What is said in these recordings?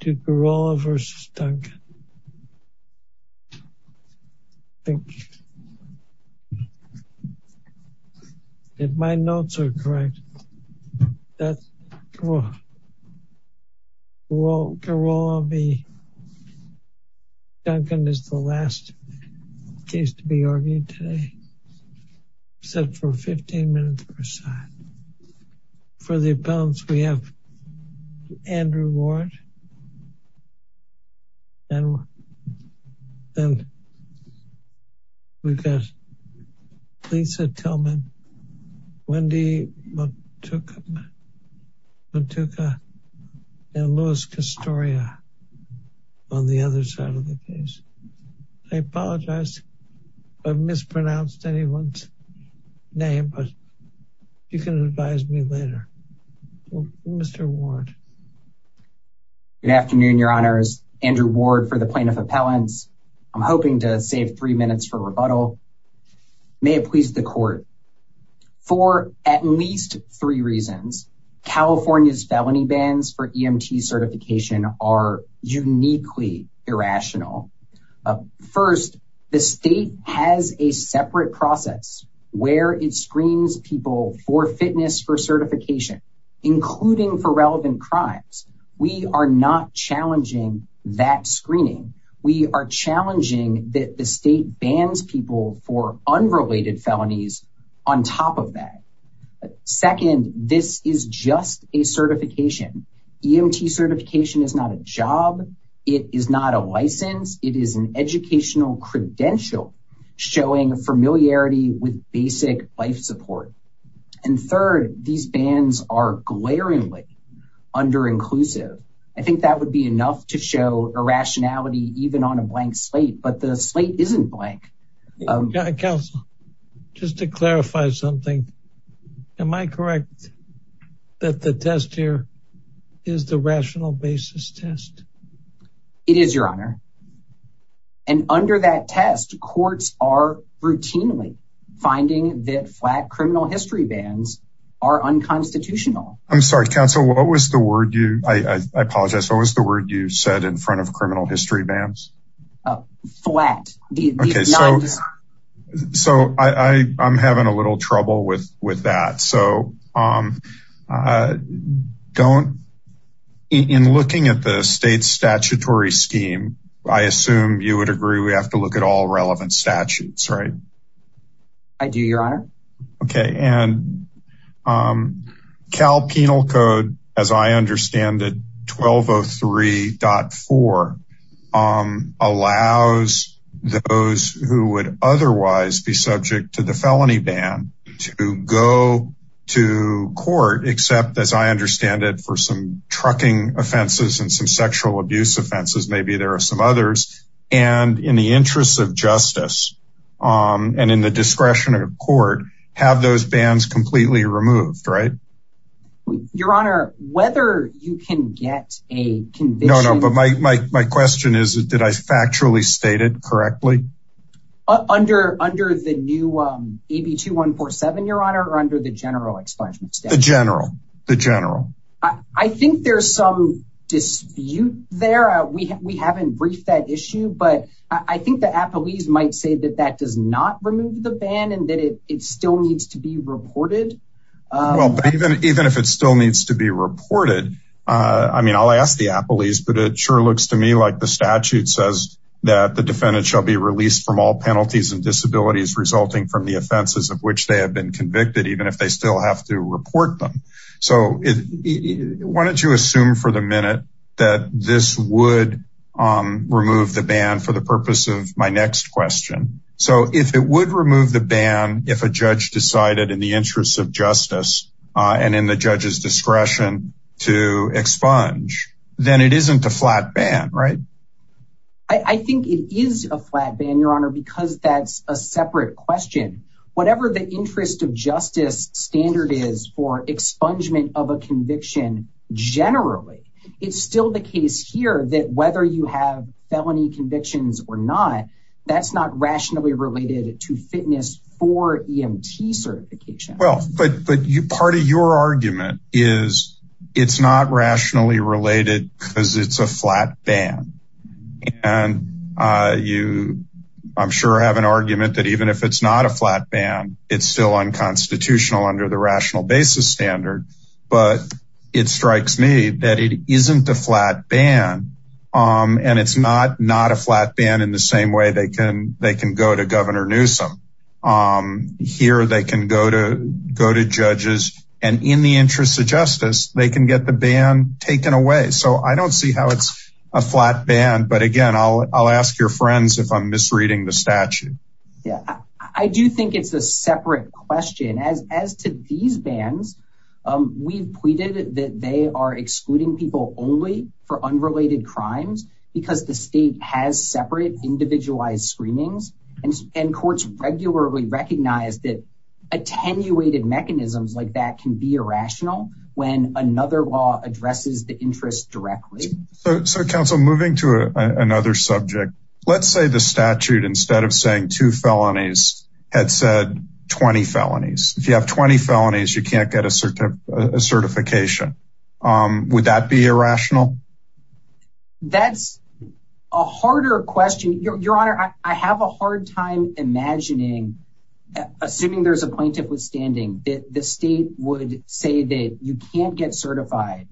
to Gurrola v. Duncan. Thank you. If my notes are correct, that's Gurrola v. Duncan is the Andrew Ward. And then we've got Lisa Tillman, Wendy Motooka, and Louis Castoria on the other side of the case. I apologize if I mispronounced anyone's name, but you can advise me later. Mr. Ward. Good afternoon, your honors. Andrew Ward for the plaintiff appellants. I'm hoping to save three minutes for rebuttal. May it please the court. For at least three reasons, California's felony bans for EMT certification are uniquely irrational. First, the state has a separate process where it screens people for fitness for certification, including for relevant crimes. We are not challenging that screening. We are challenging that the state bans people for unrelated felonies on top of that. Second, this is just a certification. EMT certification is not a job. It is not a license. It is an educational credential showing familiarity with basic life support. And third, these bans are glaringly underinclusive. I think that would be enough to show irrationality even on a blank slate, but the slate isn't blank. Counsel, just to clarify something, am I correct that the test here is the rational basis test? It is, your honor. And under that test, courts are routinely finding that flat criminal history bans are unconstitutional. I'm sorry, counsel, what was the word you, I apologize, what was the word you said in front of criminal history bans? Flat. Okay, so I'm having a little trouble with that, so don't, in looking at the state's statutory scheme, I assume you would agree we have to look at all relevant statutes, right? I do, your honor. Okay, and Cal Penal Code, as I understand it, 1203.4 allows those who would otherwise be subject to the felony ban to go to court, except, as I understand it, for some trucking offenses and some sexual abuse offenses, maybe there are some others, and in the interest of justice and in the discretion of court, have those bans completely removed, right? Your honor, whether you can get a conviction... No, no, but my question is, did I factually state it correctly? Under the new AB2147, your honor, or under the general explanation? The general, the general. I think there's some dispute there, we haven't briefed that issue, but I think the appellees might say that that does not remove the ban and that it still needs to be reported. Well, but even if it still needs to be reported, I mean, I'll ask the appellees, but it sure looks to me like the statute says that the defendant shall be released from all penalties and disabilities resulting from the offenses of which they have been convicted, even if they still have to report them. So why don't you assume for the minute that this would remove the ban for the interest of justice and in the judge's discretion to expunge, then it isn't a flat ban, right? I think it is a flat ban, your honor, because that's a separate question. Whatever the interest of justice standard is for expungement of a conviction generally, it's still the case here that whether you have felony convictions or not, that's not rationally related to fitness for EMT certification. Well, but part of your argument is it's not rationally related because it's a flat ban. And you, I'm sure, have an argument that even if it's not a flat ban, it's still unconstitutional under the rational basis standard. But it strikes me that it isn't a flat ban. And it's not not a flat ban in the same way they can they can go to Governor Newsom. Here, they can go to go to judges, and in the interest of justice, they can get the ban taken away. So I don't see how it's a flat ban. But again, I'll ask your friends if I'm misreading the statute. Yeah, I do think it's a separate question as as to these bans. We've tweeted that they are excluding people only for unrelated crimes, because the state has separate individualized screenings. And courts regularly recognize that attenuated mechanisms like that can be irrational when another law addresses the interest directly. So Council moving to another subject, let's say the statute instead of saying two felonies had said 20 felonies, if you have 20 felonies, you can't get a certification. Would that be irrational? That's a harder question. Your Honor, I have a hard time imagining, assuming there's a plaintiff withstanding that the state would say that you can't get certified.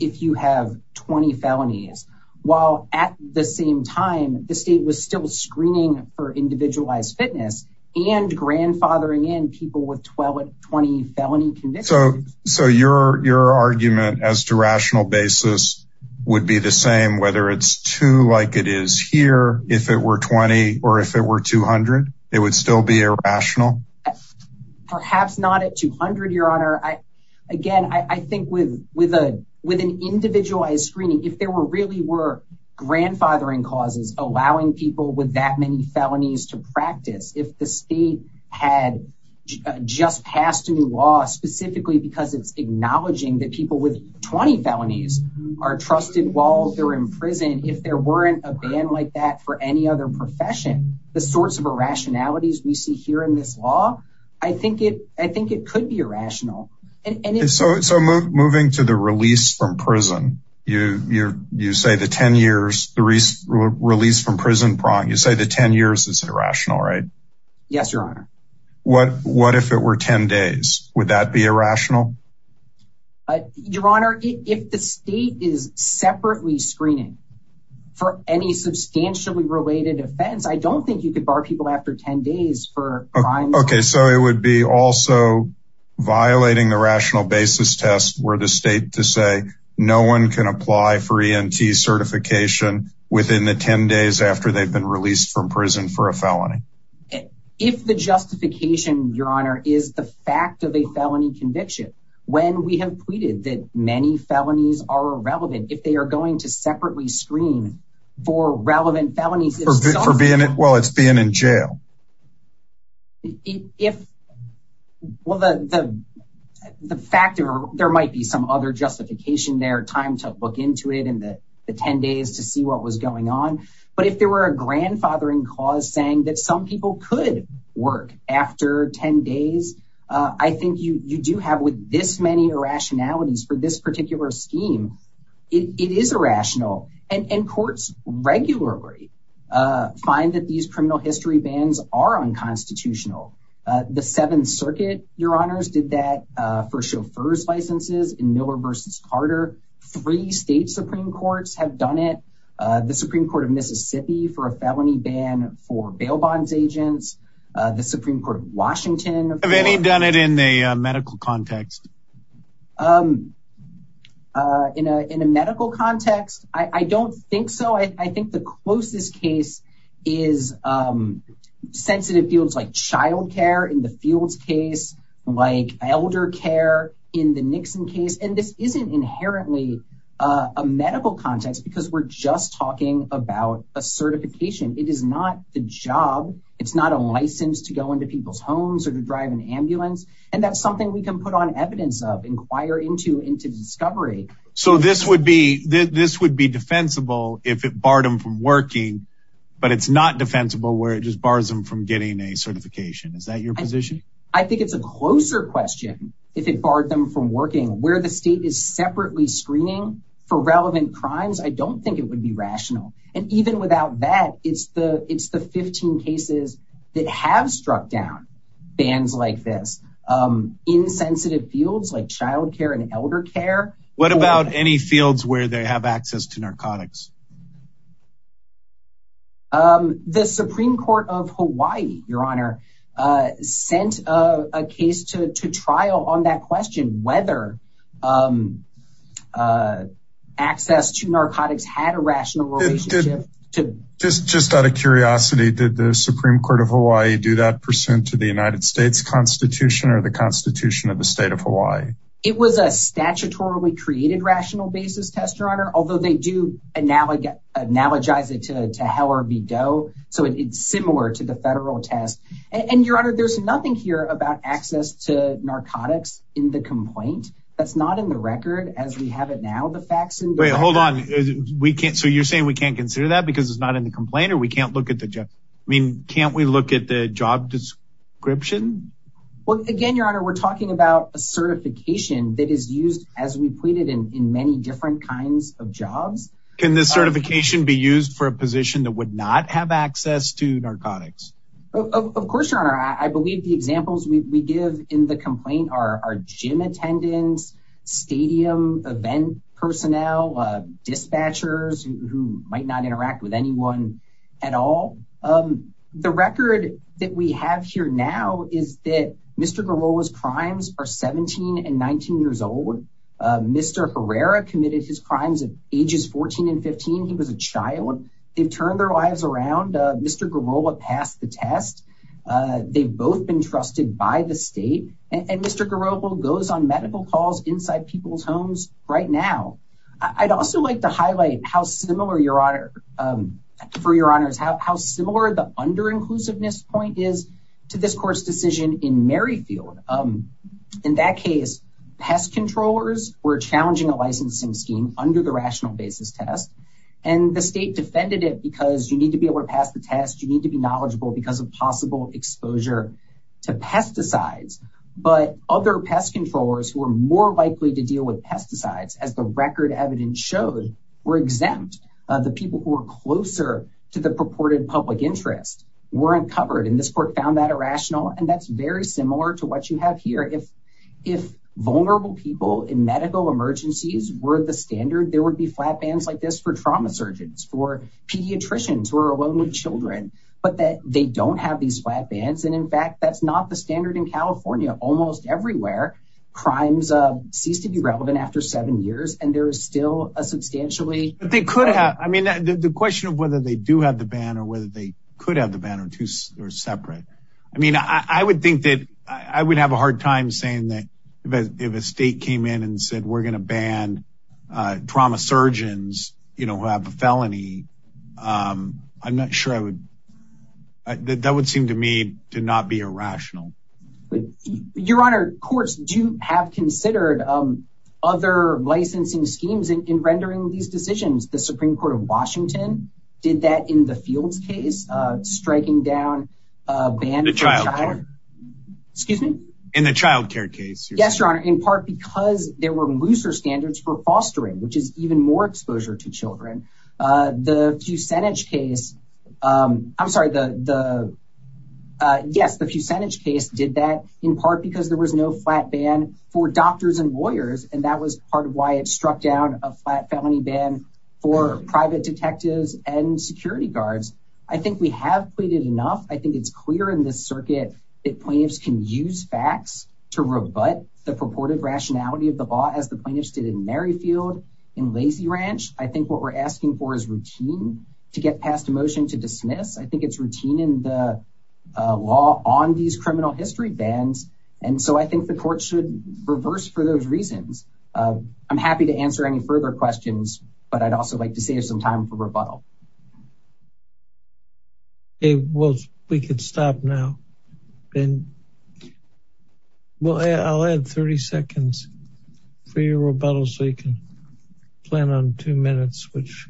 If you have 20 felonies, while at the same time, the state was screening for individualized fitness, and grandfathering in people with 12 or 20 felony convictions. So your argument as to rational basis would be the same, whether it's two like it is here, if it were 20, or if it were 200, it would still be irrational? Perhaps not at 200, Your Honor. Again, I think with an individualized screening, if there really were grandfathering allowing people with that many felonies to practice, if the state had just passed a new law, specifically, because it's acknowledging that people with 20 felonies are trusted while they're in prison, if there weren't a ban like that for any other profession, the sorts of irrationalities we see here in this law, I think it could be irrational. So moving to the release from prison, you say the 10 years, the release from prison, you say the 10 years is irrational, right? Yes, Your Honor. What if it were 10 days? Would that be irrational? Your Honor, if the state is separately screening for any substantially related offense, I don't think you could bar people after 10 days for crime. Okay, so it would be also violating the rational basis test where the state to say, no one can apply for ENT certification within the 10 days after they've been released from prison for a felony. If the justification, Your Honor, is the fact of a felony conviction, when we have tweeted that many felonies are irrelevant, if they are going to separately screen for relevant felonies. For being in, well, it's being in jail. If, well, the fact of, there might be some other justification there, time to look into it, and the 10 days to see what was going on. But if there were a grandfathering cause saying that some people could work after 10 days, I think you do have with this many irrationalities for this particular scheme, it is irrational. And courts regularly find that these criminal history bans are unconstitutional. The Seventh Circuit, Your Honors, did that for chauffeur's licenses in Miller v. Carter. Three state Supreme Courts have done it. The Supreme Court of Mississippi for a felony ban for bail bonds agents, the Supreme Court of Washington... Have any done it in the medical context? In a medical context, I don't think so. I think the closest case is sensitive fields like child care in the Fields case, like elder care in the Nixon case. And this isn't inherently a medical context because we're just talking about a certification. It is not the job. It's not a license to go into people's homes or to drive an ambulance. And that's something we can put on evidence of, inquire into, into discovery. So this would be defensible if it defensible where it just bars them from getting a certification. Is that your position? I think it's a closer question if it barred them from working where the state is separately screening for relevant crimes. I don't think it would be rational. And even without that, it's the it's the 15 cases that have struck down bans like this insensitive fields like child care and elder care. What about any fields where they have access to narcotics? The Supreme Court of Hawaii, Your Honor, sent a case to trial on that question whether access to narcotics had a rational relationship. Just out of curiosity, did the Supreme Court of Hawaii do that percent to the United States Constitution or the Constitution of the state of Hawaii? It was a statutorily created rational basis test, Your Honor, although they do analogize it to Howard B. Doe. So it's similar to the federal test. And Your Honor, there's nothing here about access to narcotics in the complaint. That's not in the record as we have it now. The facts and hold on, we can't so you're saying we can't consider that because it's not in the complaint or we can't look at the job. I mean, can't we look at the job description? Well, again, Your Honor, we're talking about a certification that is used as we pleaded in many different kinds of jobs. Can this certification be used for a position that would not have access to narcotics? Of course, Your Honor, I believe the examples we give in the complaint are gym attendants, stadium event personnel, dispatchers who might not interact with anyone at all. The record that we have here now is that Mr. Garola's crimes are 17 and 19 years old. Mr. Herrera committed his crimes at ages 14 and 15. He was a child. They've turned their lives around. Mr. Garola passed the test. They've both been trusted by the state. And Mr. Garola goes on medical calls inside people's homes right now. I'd also like to highlight how similar Your Honor, for Your Honors, how similar the under inclusiveness point is to this court's decision in Merrifield. In that case, pest controllers were challenging a licensing scheme under the rational basis test. And the state defended it because you need to be able to pass the test. You need to be knowledgeable because of possible exposure to pesticides. But other pest controllers who are more likely to deal with pesticides, as the record evidence showed, were exempt. The people who were closer to the purported public interest weren't covered. And this court found that similar to what you have here. If vulnerable people in medical emergencies were the standard, there would be flat bans like this for trauma surgeons, for pediatricians who are alone with children. But that they don't have these flat bans. And in fact, that's not the standard in California. Almost everywhere, crimes cease to be relevant after seven years. And there is still a substantially. But they could have. I mean, the question of whether they do have the ban or whether they could have the ban or two or separate. I mean, I would think that I would have a hard time saying that if a state came in and said, we're going to ban trauma surgeons who have a felony. I'm not sure I would. That would seem to me to not be irrational. Your Honor, courts do have considered other licensing schemes in rendering these decisions. The Supreme Court of Washington did that in the Fields case, striking down a ban. Excuse me, in the child care case. Yes, Your Honor, in part because there were looser standards for fostering, which is even more exposure to children. The Fusenich case. I'm sorry, the yes, the Fusenich case did that in part because there was no flat ban for doctors and lawyers. And that was part of why it struck down a flat felony ban for private detectives and security guards. I think we have pleaded enough. I think it's clear in this circuit that plaintiffs can use facts to rebut the purported rationality of the law, as the plaintiffs did in Merrifield in Lazy Ranch. I think what we're asking for is routine to get past a motion to dismiss. I think it's routine in the law on these criminal history bans. And so I think the court should reverse for those reasons. I'm happy to answer any further questions, but I'd also like to save some time for rebuttal. Okay, well, we could stop now. And well, I'll add 30 seconds for your rebuttal so you can plan on two minutes, which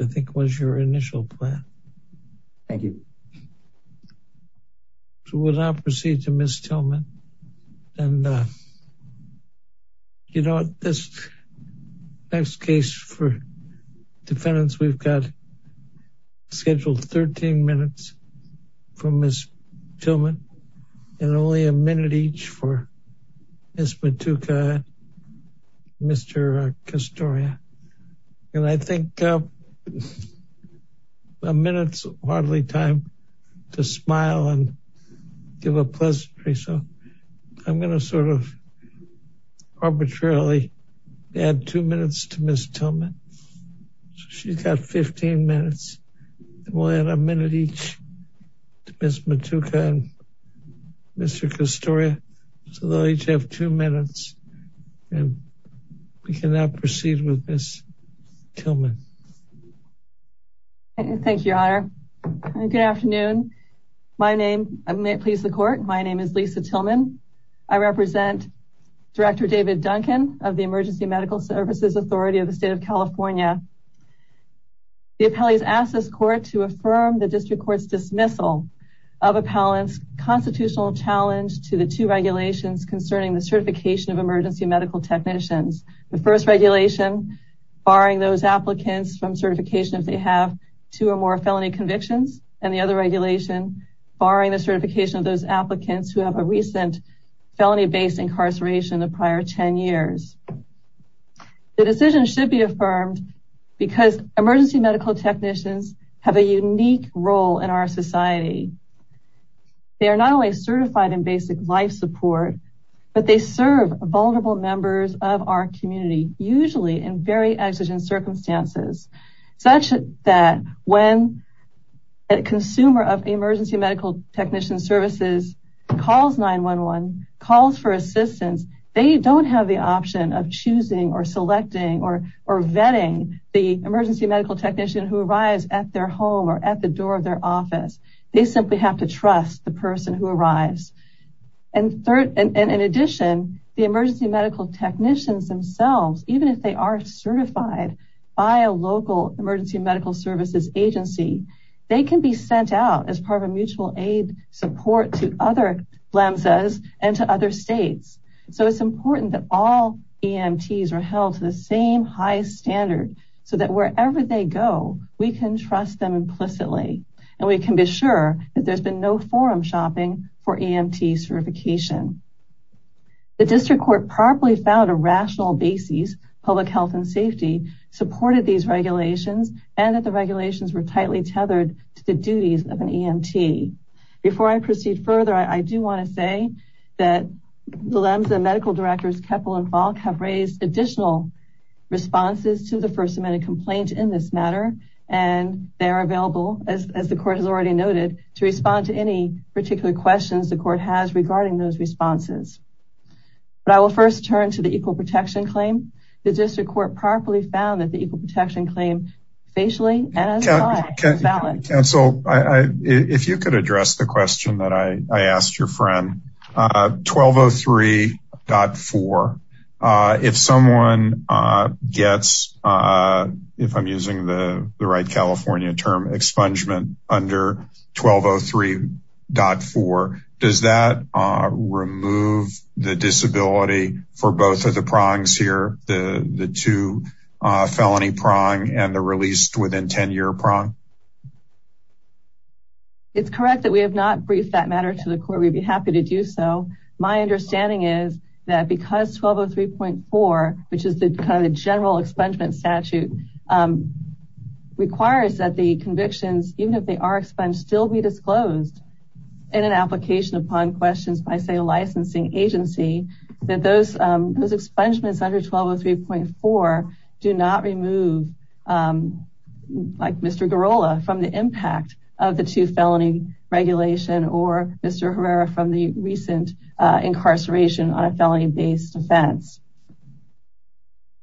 I think was your initial plan. Thank you. So we'll now proceed to Ms. Tillman. And you know, this next case for defendants, we've got scheduled 13 minutes for Ms. Tillman, and only a minute each for Ms. Matuka, Mr. Castoria. And I think a minute's hardly time to smile and give a pleasantry. So I'm going to sort of arbitrarily add two minutes to Ms. Tillman. She's got 15 minutes. We'll add a minute each to Ms. Matuka and Mr. Castoria. So they'll each have two minutes. And we can now proceed with Ms. Tillman. Thank you, Your Honor. Good afternoon. My name, may it please the court, my name is Lisa Tillman. I represent Director David Duncan of the Emergency Medical Services Authority of the state of California. The appellees asked this court to affirm the district court's dismissal of appellant's constitutional challenge to the two regulations concerning the certification of emergency medical technicians. The first regulation, barring those applicants from certification if they have two or more felony convictions, and the other regulation, barring the certification of those applicants who have a recent felony-based incarceration the prior 10 years. The decision should be affirmed because emergency medical technicians have a unique role in our society. They are not only certified in basic life support, but they serve vulnerable members of our community, usually in very exigent circumstances, such that when a consumer of emergency medical technician services calls 911, calls for assistance, they don't have the option of choosing or selecting or vetting the emergency medical technician who arrives at their home or at the door of their office. They simply have to rise. And in addition, the emergency medical technicians themselves, even if they are certified by a local emergency medical services agency, they can be sent out as part of a mutual aid support to other PHLAMSAs and to other states. So it's important that all EMTs are held to the same high standard so that wherever they go, we can trust them implicitly and we can be sure that there's been no forum shopping for EMT certification. The district court properly found a rational basis, public health and safety, supported these regulations, and that the regulations were tightly tethered to the duties of an EMT. Before I proceed further, I do want to say that PHLAMSA medical directors Keppel and Falk have raised additional responses to the First Amendment complaint in this matter, and they're available, as the court has already noted, to respond to any particular questions the court has regarding those responses. But I will first turn to the equal protection claim. The district court properly found that the equal protection claim facially and as a fact is valid. Counsel, if you could address the question that I asked your friend. 1203.4, if someone gets, if I'm using the right California term, expungement under 1203.4, does that remove the disability for both of the prongs here, the two felony prong and the released within 10 year prong? It's correct that we have not briefed that matter to the court. We'd be happy to do so. My understanding is that because 1203.4, which is the kind of general expungement statute, requires that the convictions, even if they are expunged, still be disclosed in an application upon questions by, say, a licensing agency, that those expungements under remove, like Mr. Girola, from the impact of the two felony regulation or Mr. Herrera from the recent incarceration on a felony-based offense.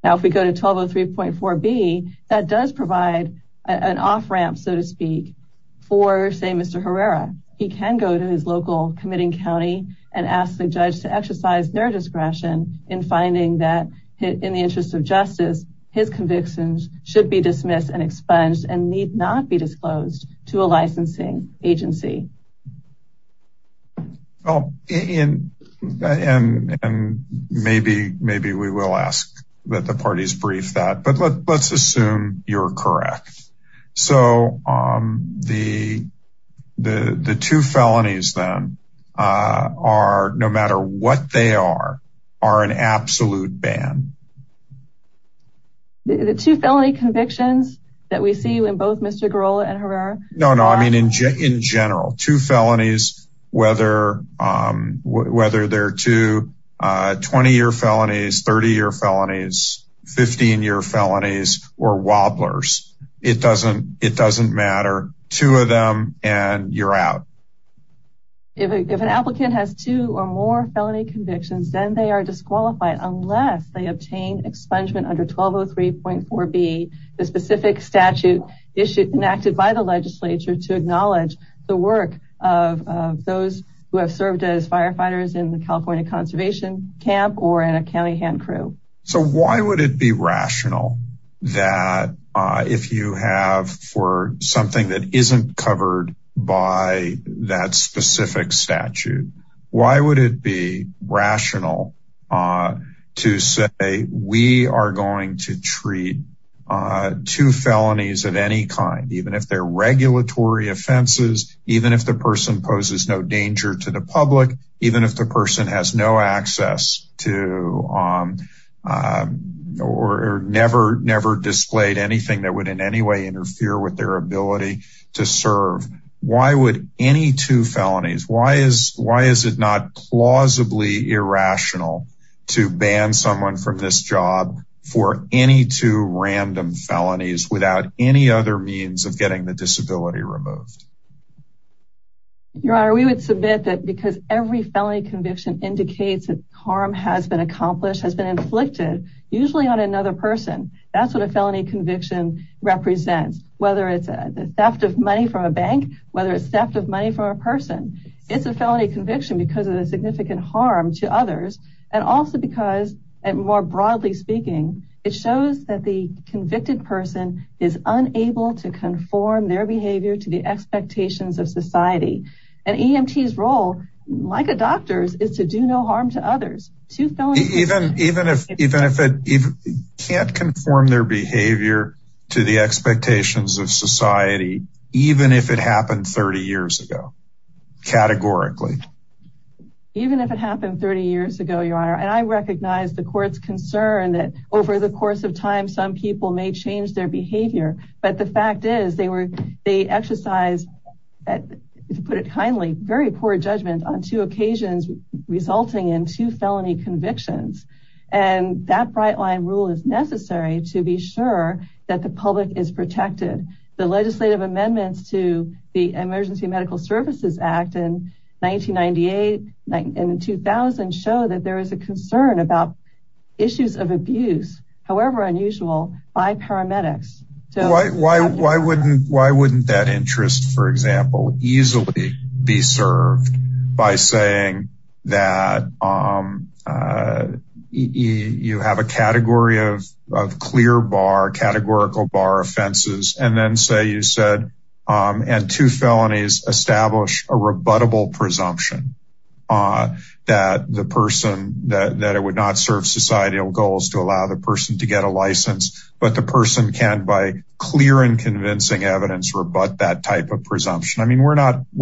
Now, if we go to 1203.4b, that does provide an off-ramp, so to speak, for, say, Mr. Herrera. He can go to his local committing county and ask the judge to exercise their discretion in finding that, in the interest of justice, his convictions should be dismissed and expunged and need not be disclosed to a licensing agency. And maybe we will ask that the parties brief that, but let's assume you're correct. So, the two felonies, then, are, no matter what they are, are an absolute ban. The two felony convictions that we see in both Mr. Girola and Herrera? No, no, I mean, in general, two felonies, whether they're two 20-year felonies, 30-year felonies, 15-year felonies, or wobblers, it doesn't matter. Two of them and you're out. If an applicant has two or more felony convictions, then they are disqualified unless they obtain expungement under 1203.4b, the specific statute enacted by the legislature to acknowledge the work of those who have served as firefighters in the California Conservation Camp or in a So, why would it be rational that if you have for something that isn't covered by that specific statute, why would it be rational to say we are going to treat two felonies of any kind, even if they're regulatory offenses, even if the person poses no danger to the public, even if the person has no access to or never displayed anything that would in any way interfere with their ability to serve? Why would any two felonies, why is it not plausibly irrational to ban someone from this job for any two random felonies without any other means of getting the felony conviction? Every felony conviction indicates that harm has been accomplished, has been inflicted, usually on another person. That's what a felony conviction represents, whether it's a theft of money from a bank, whether it's theft of money from a person. It's a felony conviction because of a significant harm to others and also because, more broadly speaking, it shows that the convicted person is unable to conform their behavior to the expectations of society, even if it happened 30 years ago, categorically. Even if it happened 30 years ago, Your Honor, and I recognize the court's concern that over the course of time, some people may change their behavior, but the fact is they were, they exercise, to put it kindly, very poor judgment on two occasions resulting in two felony convictions, and that bright line rule is necessary to be sure that the public is protected. The legislative amendments to the Emergency Medical Services Act in 1998 and 2000 show that there is a concern about issues of abuse, however unusual, by paramedics. Why wouldn't that interest, for example, easily be served by saying that you have a category of clear bar, categorical bar offenses, and then say you said, and two felonies establish a rebuttable presumption that the person, that it would serve societal goals to allow the person to get a license, but the person can, by clear and convincing evidence, rebut that type of presumption? I mean, we're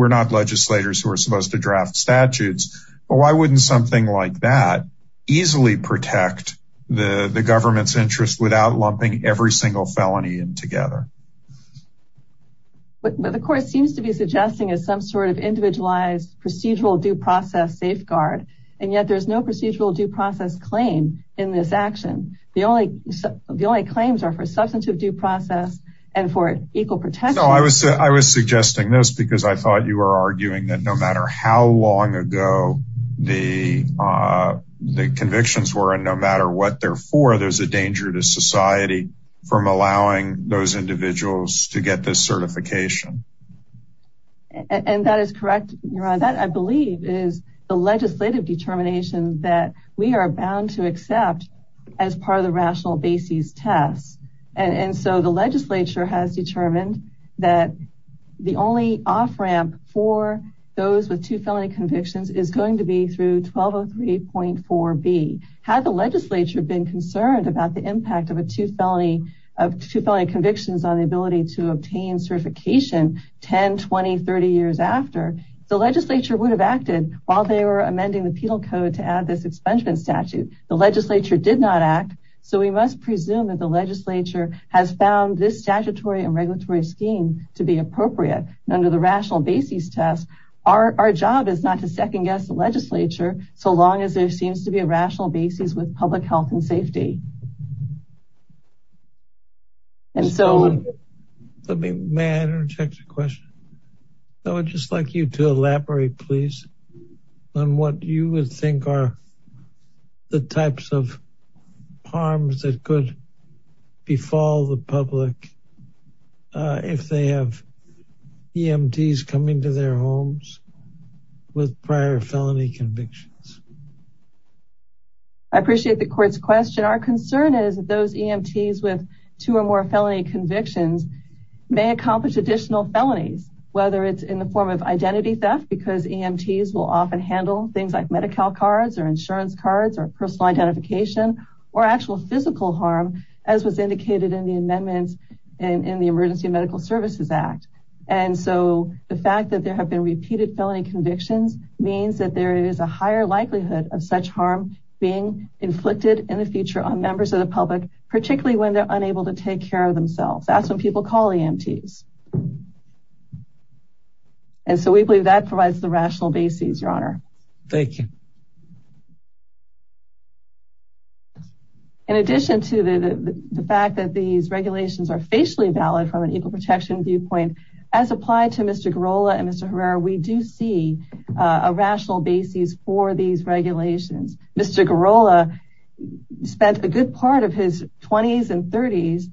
not legislators who are supposed to draft statutes, but why wouldn't something like that easily protect the government's interest without lumping every single felony in together? But the court seems to be suggesting as some sort of individualized procedural due process safeguard, and yet there's no procedural due process claim in this action. The only, the only claims are for substantive due process and for equal protection. No, I was, I was suggesting this because I thought you were arguing that no matter how long ago the convictions were, and no matter what they're for, there's a danger to society from allowing those individuals to get this certification. And that is correct, Your Honor. That, I believe, is the legislative determination that we are bound to accept as part of the rational basis test. And so the legislature has determined that the only off-ramp for those with two felony convictions is going to be through 1203.4b. Had the legislature been concerned about the impact of a two felony, of two felony convictions on the ability to obtain certification 10, 20, 30 years after, the legislature would have acted while they were amending the penal code to add this expungement statute. The legislature did not act, so we must presume that the legislature has found this statutory and regulatory scheme to be appropriate. Under the rational basis test, our job is not to second-guess the legislature, so long as there seems to be a rational basis with public health and safety. And so, let me, may I interject a question? I would just like you to elaborate, please, on what you would think are the types of harms that could befall the public if they have EMTs coming to their homes with prior felony convictions. I appreciate the court's question. Our concern is that those EMTs with two or more felony convictions may accomplish additional felonies, whether it's in the form of identity theft, because EMTs will often handle things like Medi-Cal cards, or insurance cards, or personal identification, or actual physical harm, as was indicated in the amendments in the Emergency Medical Services Act. And so, the fact that there have been repeated felony convictions means that there is a higher likelihood of such harm being inflicted in the future on members of the public, particularly when they're unable to take care of themselves. That's when people call EMTs. And so, we believe that provides the rational basis, Your Honor. Thank you. In addition to the fact that these regulations are facially valid from an equal protection viewpoint, as applied to Mr. Girola and Mr. Herrera, we do see a rational basis for these regulations. Mr. Girola spent a good part of his 20s and 30s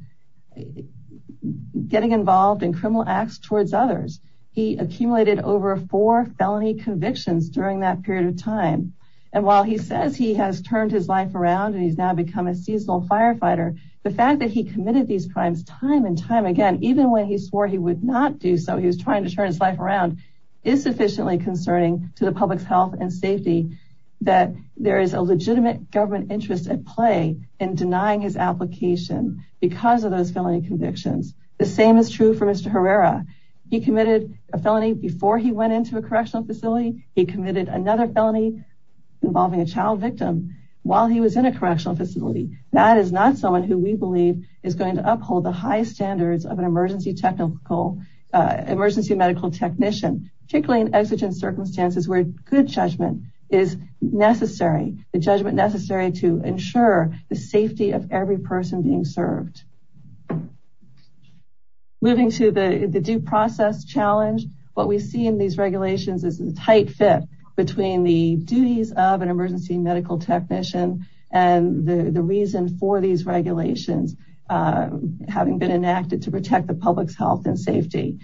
getting involved in criminal acts towards others. He accumulated over four felony convictions during that period of time. And while he says he has turned his life around and he's now become a seasonal firefighter, the fact that he committed these crimes time and time again, even when he swore he would not do so, he was trying to turn his life around, is sufficiently concerning to the public's health and safety that there is a legitimate government interest at play in denying his application because of those felony convictions. The same is true for Mr. Herrera. He committed a felony before he went into a correctional facility. He committed another felony involving a child victim while he was in a correctional facility. That is not someone who we believe is going to uphold the high standards of an emergency medical technician, particularly in exigent circumstances where good judgment is necessary, the judgment necessary to ensure the safety of every person being served. Moving to the due process challenge, what we see in regulations is a tight fit between the duties of an emergency medical technician and the reason for these regulations having been enacted to protect the public's health and safety.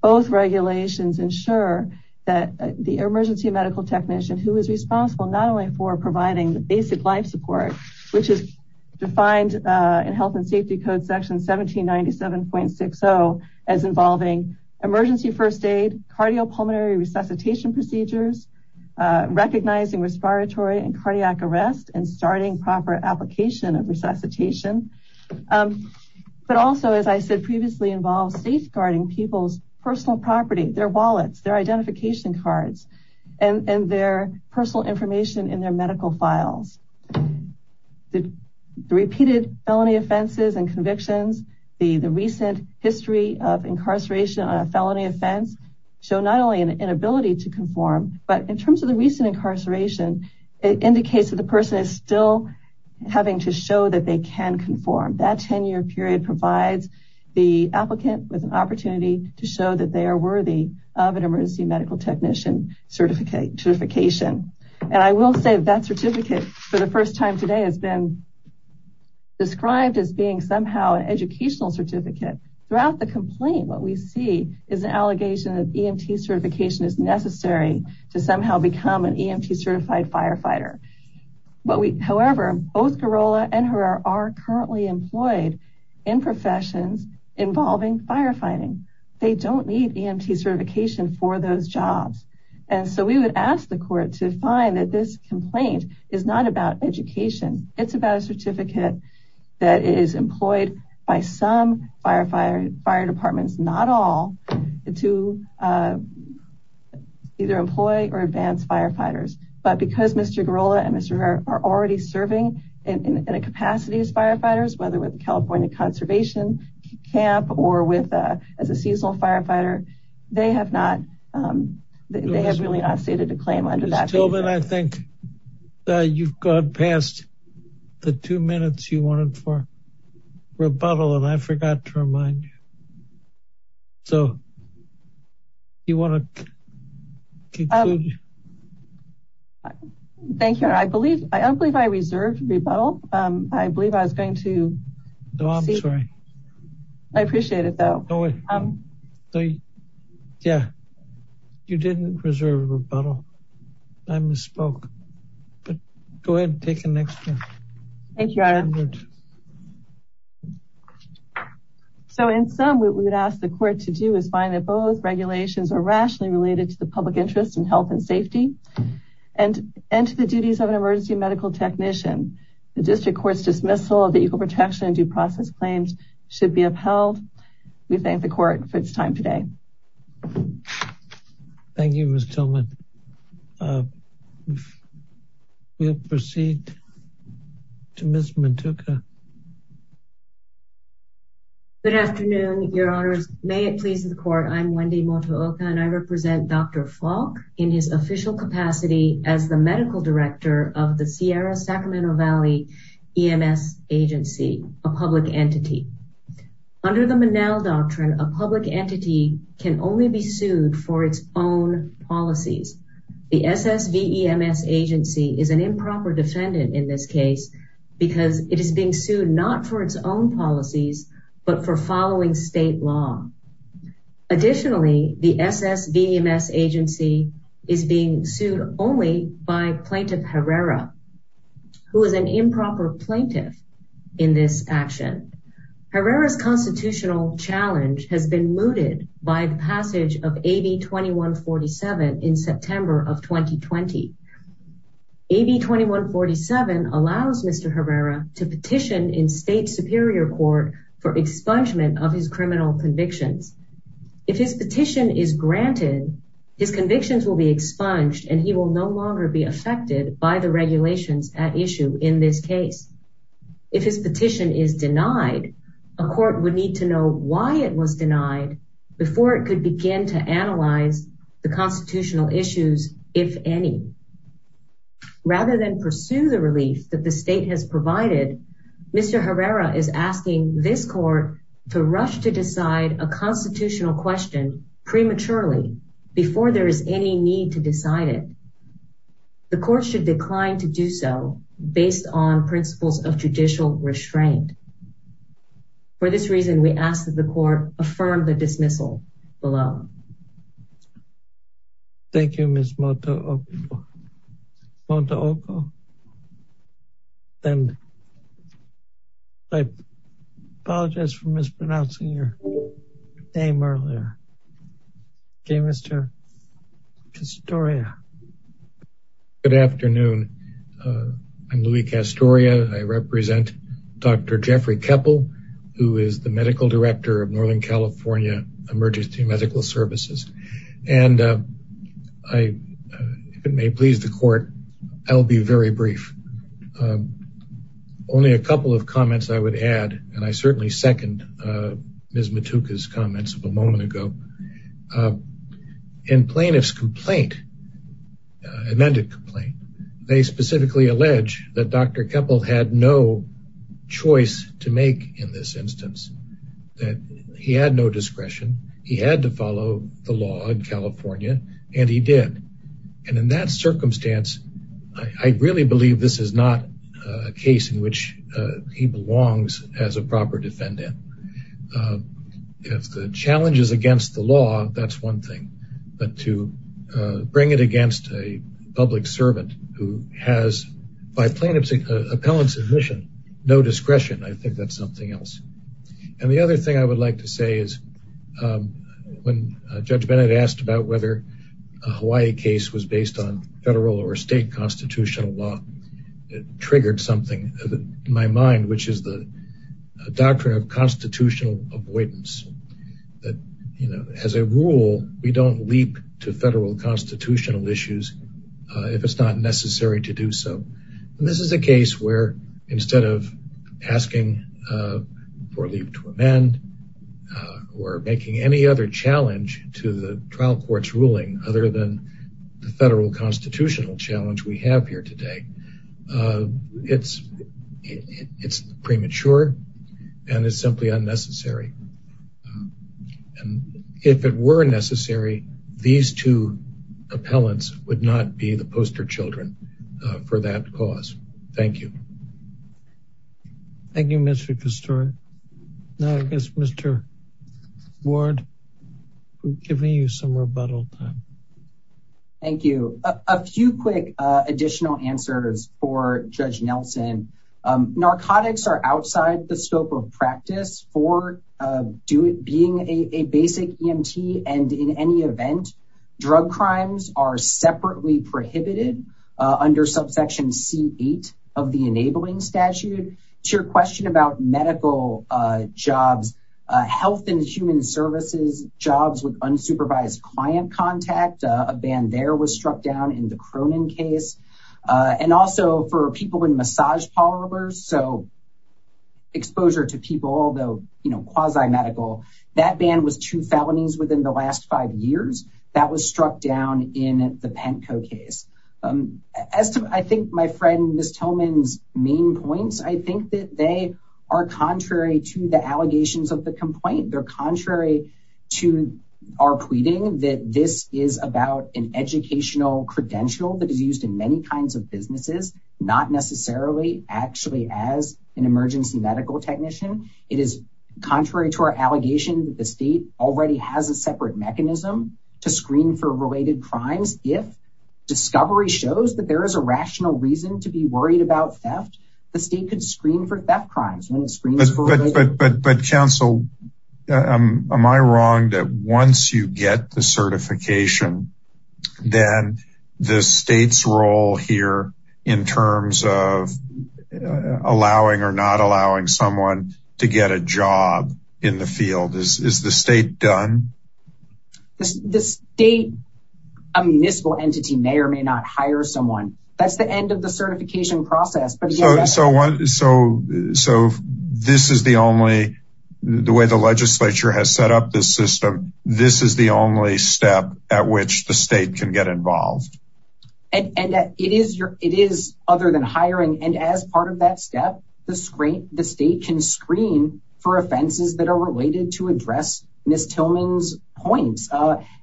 Both regulations ensure that the emergency medical technician who is responsible not only for providing the basic life support, which is defined in health and safety code section 1797.60 as involving emergency first cardiopulmonary resuscitation procedures, recognizing respiratory and cardiac arrest, and starting proper application of resuscitation. But also, as I said previously, involves safeguarding people's personal property, their wallets, their identification cards, and their personal information in their medical files. The repeated felony offenses and convictions, the recent history of incarceration on a felony offense, show not only an inability to conform, but in terms of the recent incarceration, it indicates that the person is still having to show that they can conform. That 10-year period provides the applicant with an opportunity to show that they are worthy of an emergency medical technician certification. And I will say that certificate for the first time today has been described as being somehow an educational certificate. Throughout the complaint, what we see is an allegation that EMT certification is necessary to somehow become an EMT certified firefighter. However, both Garola and Herrera are currently employed in professions involving firefighting. They don't need EMT certification for those jobs. And so we would ask the court to find that this complaint is not about education. It's about a certificate that is employed by some fire departments, not all, to either employ or advance firefighters. But because Mr. Garola and Mr. Herrera are already serving in a capacity as firefighters, whether with the California Conservation Camp or as a seasonal firefighter, they have really not stated a claim under that. Ms. Tillman, I think you've gone past the two minutes you wanted for rebuttal, and I forgot to remind you. So you want to conclude? Thank you. I don't believe I reserved rebuttal. I believe I was going to. No, I'm sorry. I appreciate it, though. Yeah, you didn't reserve rebuttal. I misspoke. Go ahead and take the next one. Thank you. So in sum, what we would ask the court to do is find that both regulations are rationally related to the public interest in health and safety and to the duties of an emergency medical technician. The district court's dismissal of the Equal Protection and Due Process claims should be upheld. We thank the court for its time today. Thank you, Ms. Tillman. We'll proceed to Ms. Motooka. Good afternoon, Your Honors. May it please the court, I'm Wendy Motooka, and I represent Dr. of the Sierra Sacramento Valley EMS Agency, a public entity. Under the Monell Doctrine, a public entity can only be sued for its own policies. The SSVEMS Agency is an improper defendant in this case because it is being sued not for its own policies, but for following state law. Additionally, the SSVEMS Agency is being sued only by Plaintiff Herrera, who is an improper plaintiff in this action. Herrera's constitutional challenge has been mooted by the passage of AB 2147 in September of 2020. AB 2147 allows Mr. Herrera to petition in state superior court for expungement of his criminal convictions. If his petition is granted, his convictions will be expunged and he will no longer be affected by the regulations at issue in this case. If his petition is denied, a court would need to know why it was denied before it could begin to analyze the constitutional issues, if any. Rather than pursue the relief that state has provided, Mr. Herrera is asking this court to rush to decide a constitutional question prematurely before there is any need to decide it. The court should decline to do so based on principles of judicial restraint. For this reason, we ask that the court affirm the dismissal of Mr. Herrera. Thank you, Ms. Mota-Oko. And I apologize for mispronouncing your name earlier. Okay, Mr. Castoria. Good afternoon. I'm Louis Castoria. I represent Dr. Jeffrey Keppel, who is the Medical Director of Northern California Emergency Medical Services. And if it may please the court, I'll be very brief. Only a couple of comments I would add, and I certainly second Ms. Motoka's comments of a moment ago. In plaintiff's complaint, amended complaint, they specifically allege that Dr. Keppel had no choice to make in this instance, that he had no discretion, he had to follow the law in California, and he did. And in that circumstance, I really believe this is not a case in which he belongs as a proper defendant. If the challenge is against the law, that's one thing. But to bring it against a public servant who has, by plaintiff's appellant's admission, no discretion, I think that's something else. And the other thing I would like to say is, when Judge Bennett asked about whether a Hawaii case was based on federal or state constitutional law, it triggered something in my mind, which is the doctrine of constitutional avoidance. As a rule, we don't leap to federal constitutional issues if it's not necessary to do so. And this is a case where, instead of asking for leave to amend, or making any other challenge to the trial court's ruling other than the federal constitutional challenge we have here today, it's premature and it's simply unnecessary. And if it were necessary, these two appellants would not be the poster children for that cause. Thank you. Thank you, Mr. Kasturi. Now, I guess, Mr. Ward, we're giving you some rebuttal time. Thank you. A few quick additional answers for Judge Nelson. Narcotics are outside the scope of practice for being a basic EMT, and in any event, drug crimes are separately prohibited under subsection C8 of the enabling statute. To your question about medical jobs, health and human services jobs with unsupervised client contact, a ban there was struck down in the Cronin case. And also for people in massage parlors, so exposure to people, although, you know, quasi-medical, that ban was two felonies within the last five years. That was struck down in the Penko case. As to, I think, my friend Ms. Tillman's main points, I think that they are contrary to the allegations of the complaint. They're contrary to our pleading that this is about an educational credential that is used in many kinds of businesses, not necessarily actually as an emergency medical technician. It is contrary to our allegation that the state already has a separate mechanism to screen for related crimes. If discovery shows that there is a rational reason to be worried about theft, the state could screen for theft crimes. But counsel, am I wrong that once you get the certification, then the state's role here in terms of allowing or not allowing someone to get a job in the field, is the state done? The state, a municipal entity may or may not hire someone. That's the end of the certification process. So this is the only, the way the legislature has set up this system, this is the only step at which the state can get involved. And it is other than hiring. And as part of that point,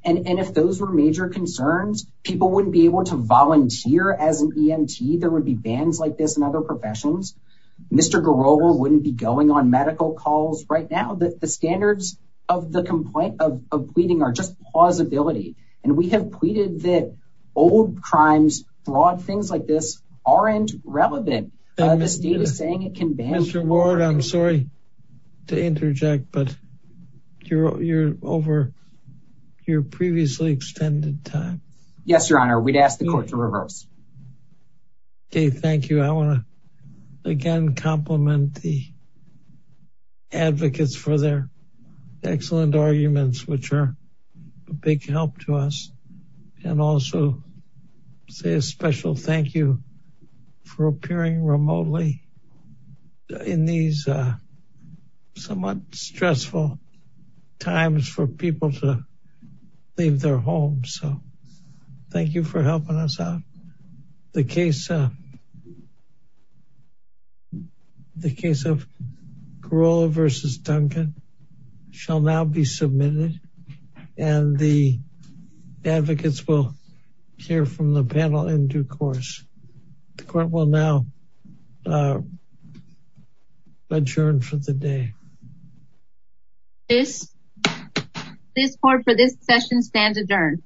and if those were major concerns, people wouldn't be able to volunteer as an EMT. There would be bans like this in other professions. Mr. Garova wouldn't be going on medical calls right now. The standards of the complaint of pleading are just plausibility. And we have pleaded that old crimes, fraud, things like this aren't relevant. The state is saying it can ban. I'm sorry to interject, but you're over your previously extended time. Yes, Your Honor, we'd ask the court to reverse. Okay, thank you. I want to again compliment the advocates for their excellent arguments, which are a big help to us. And also say a special thank you for appearing remotely in these somewhat stressful times for people to leave their homes. So thank you for helping us out. The case of Garova versus Duncan shall now be submitted. And the advocates will hear from the panel in due course. The court will now adjourn for the day. This court for this session stands adjourned.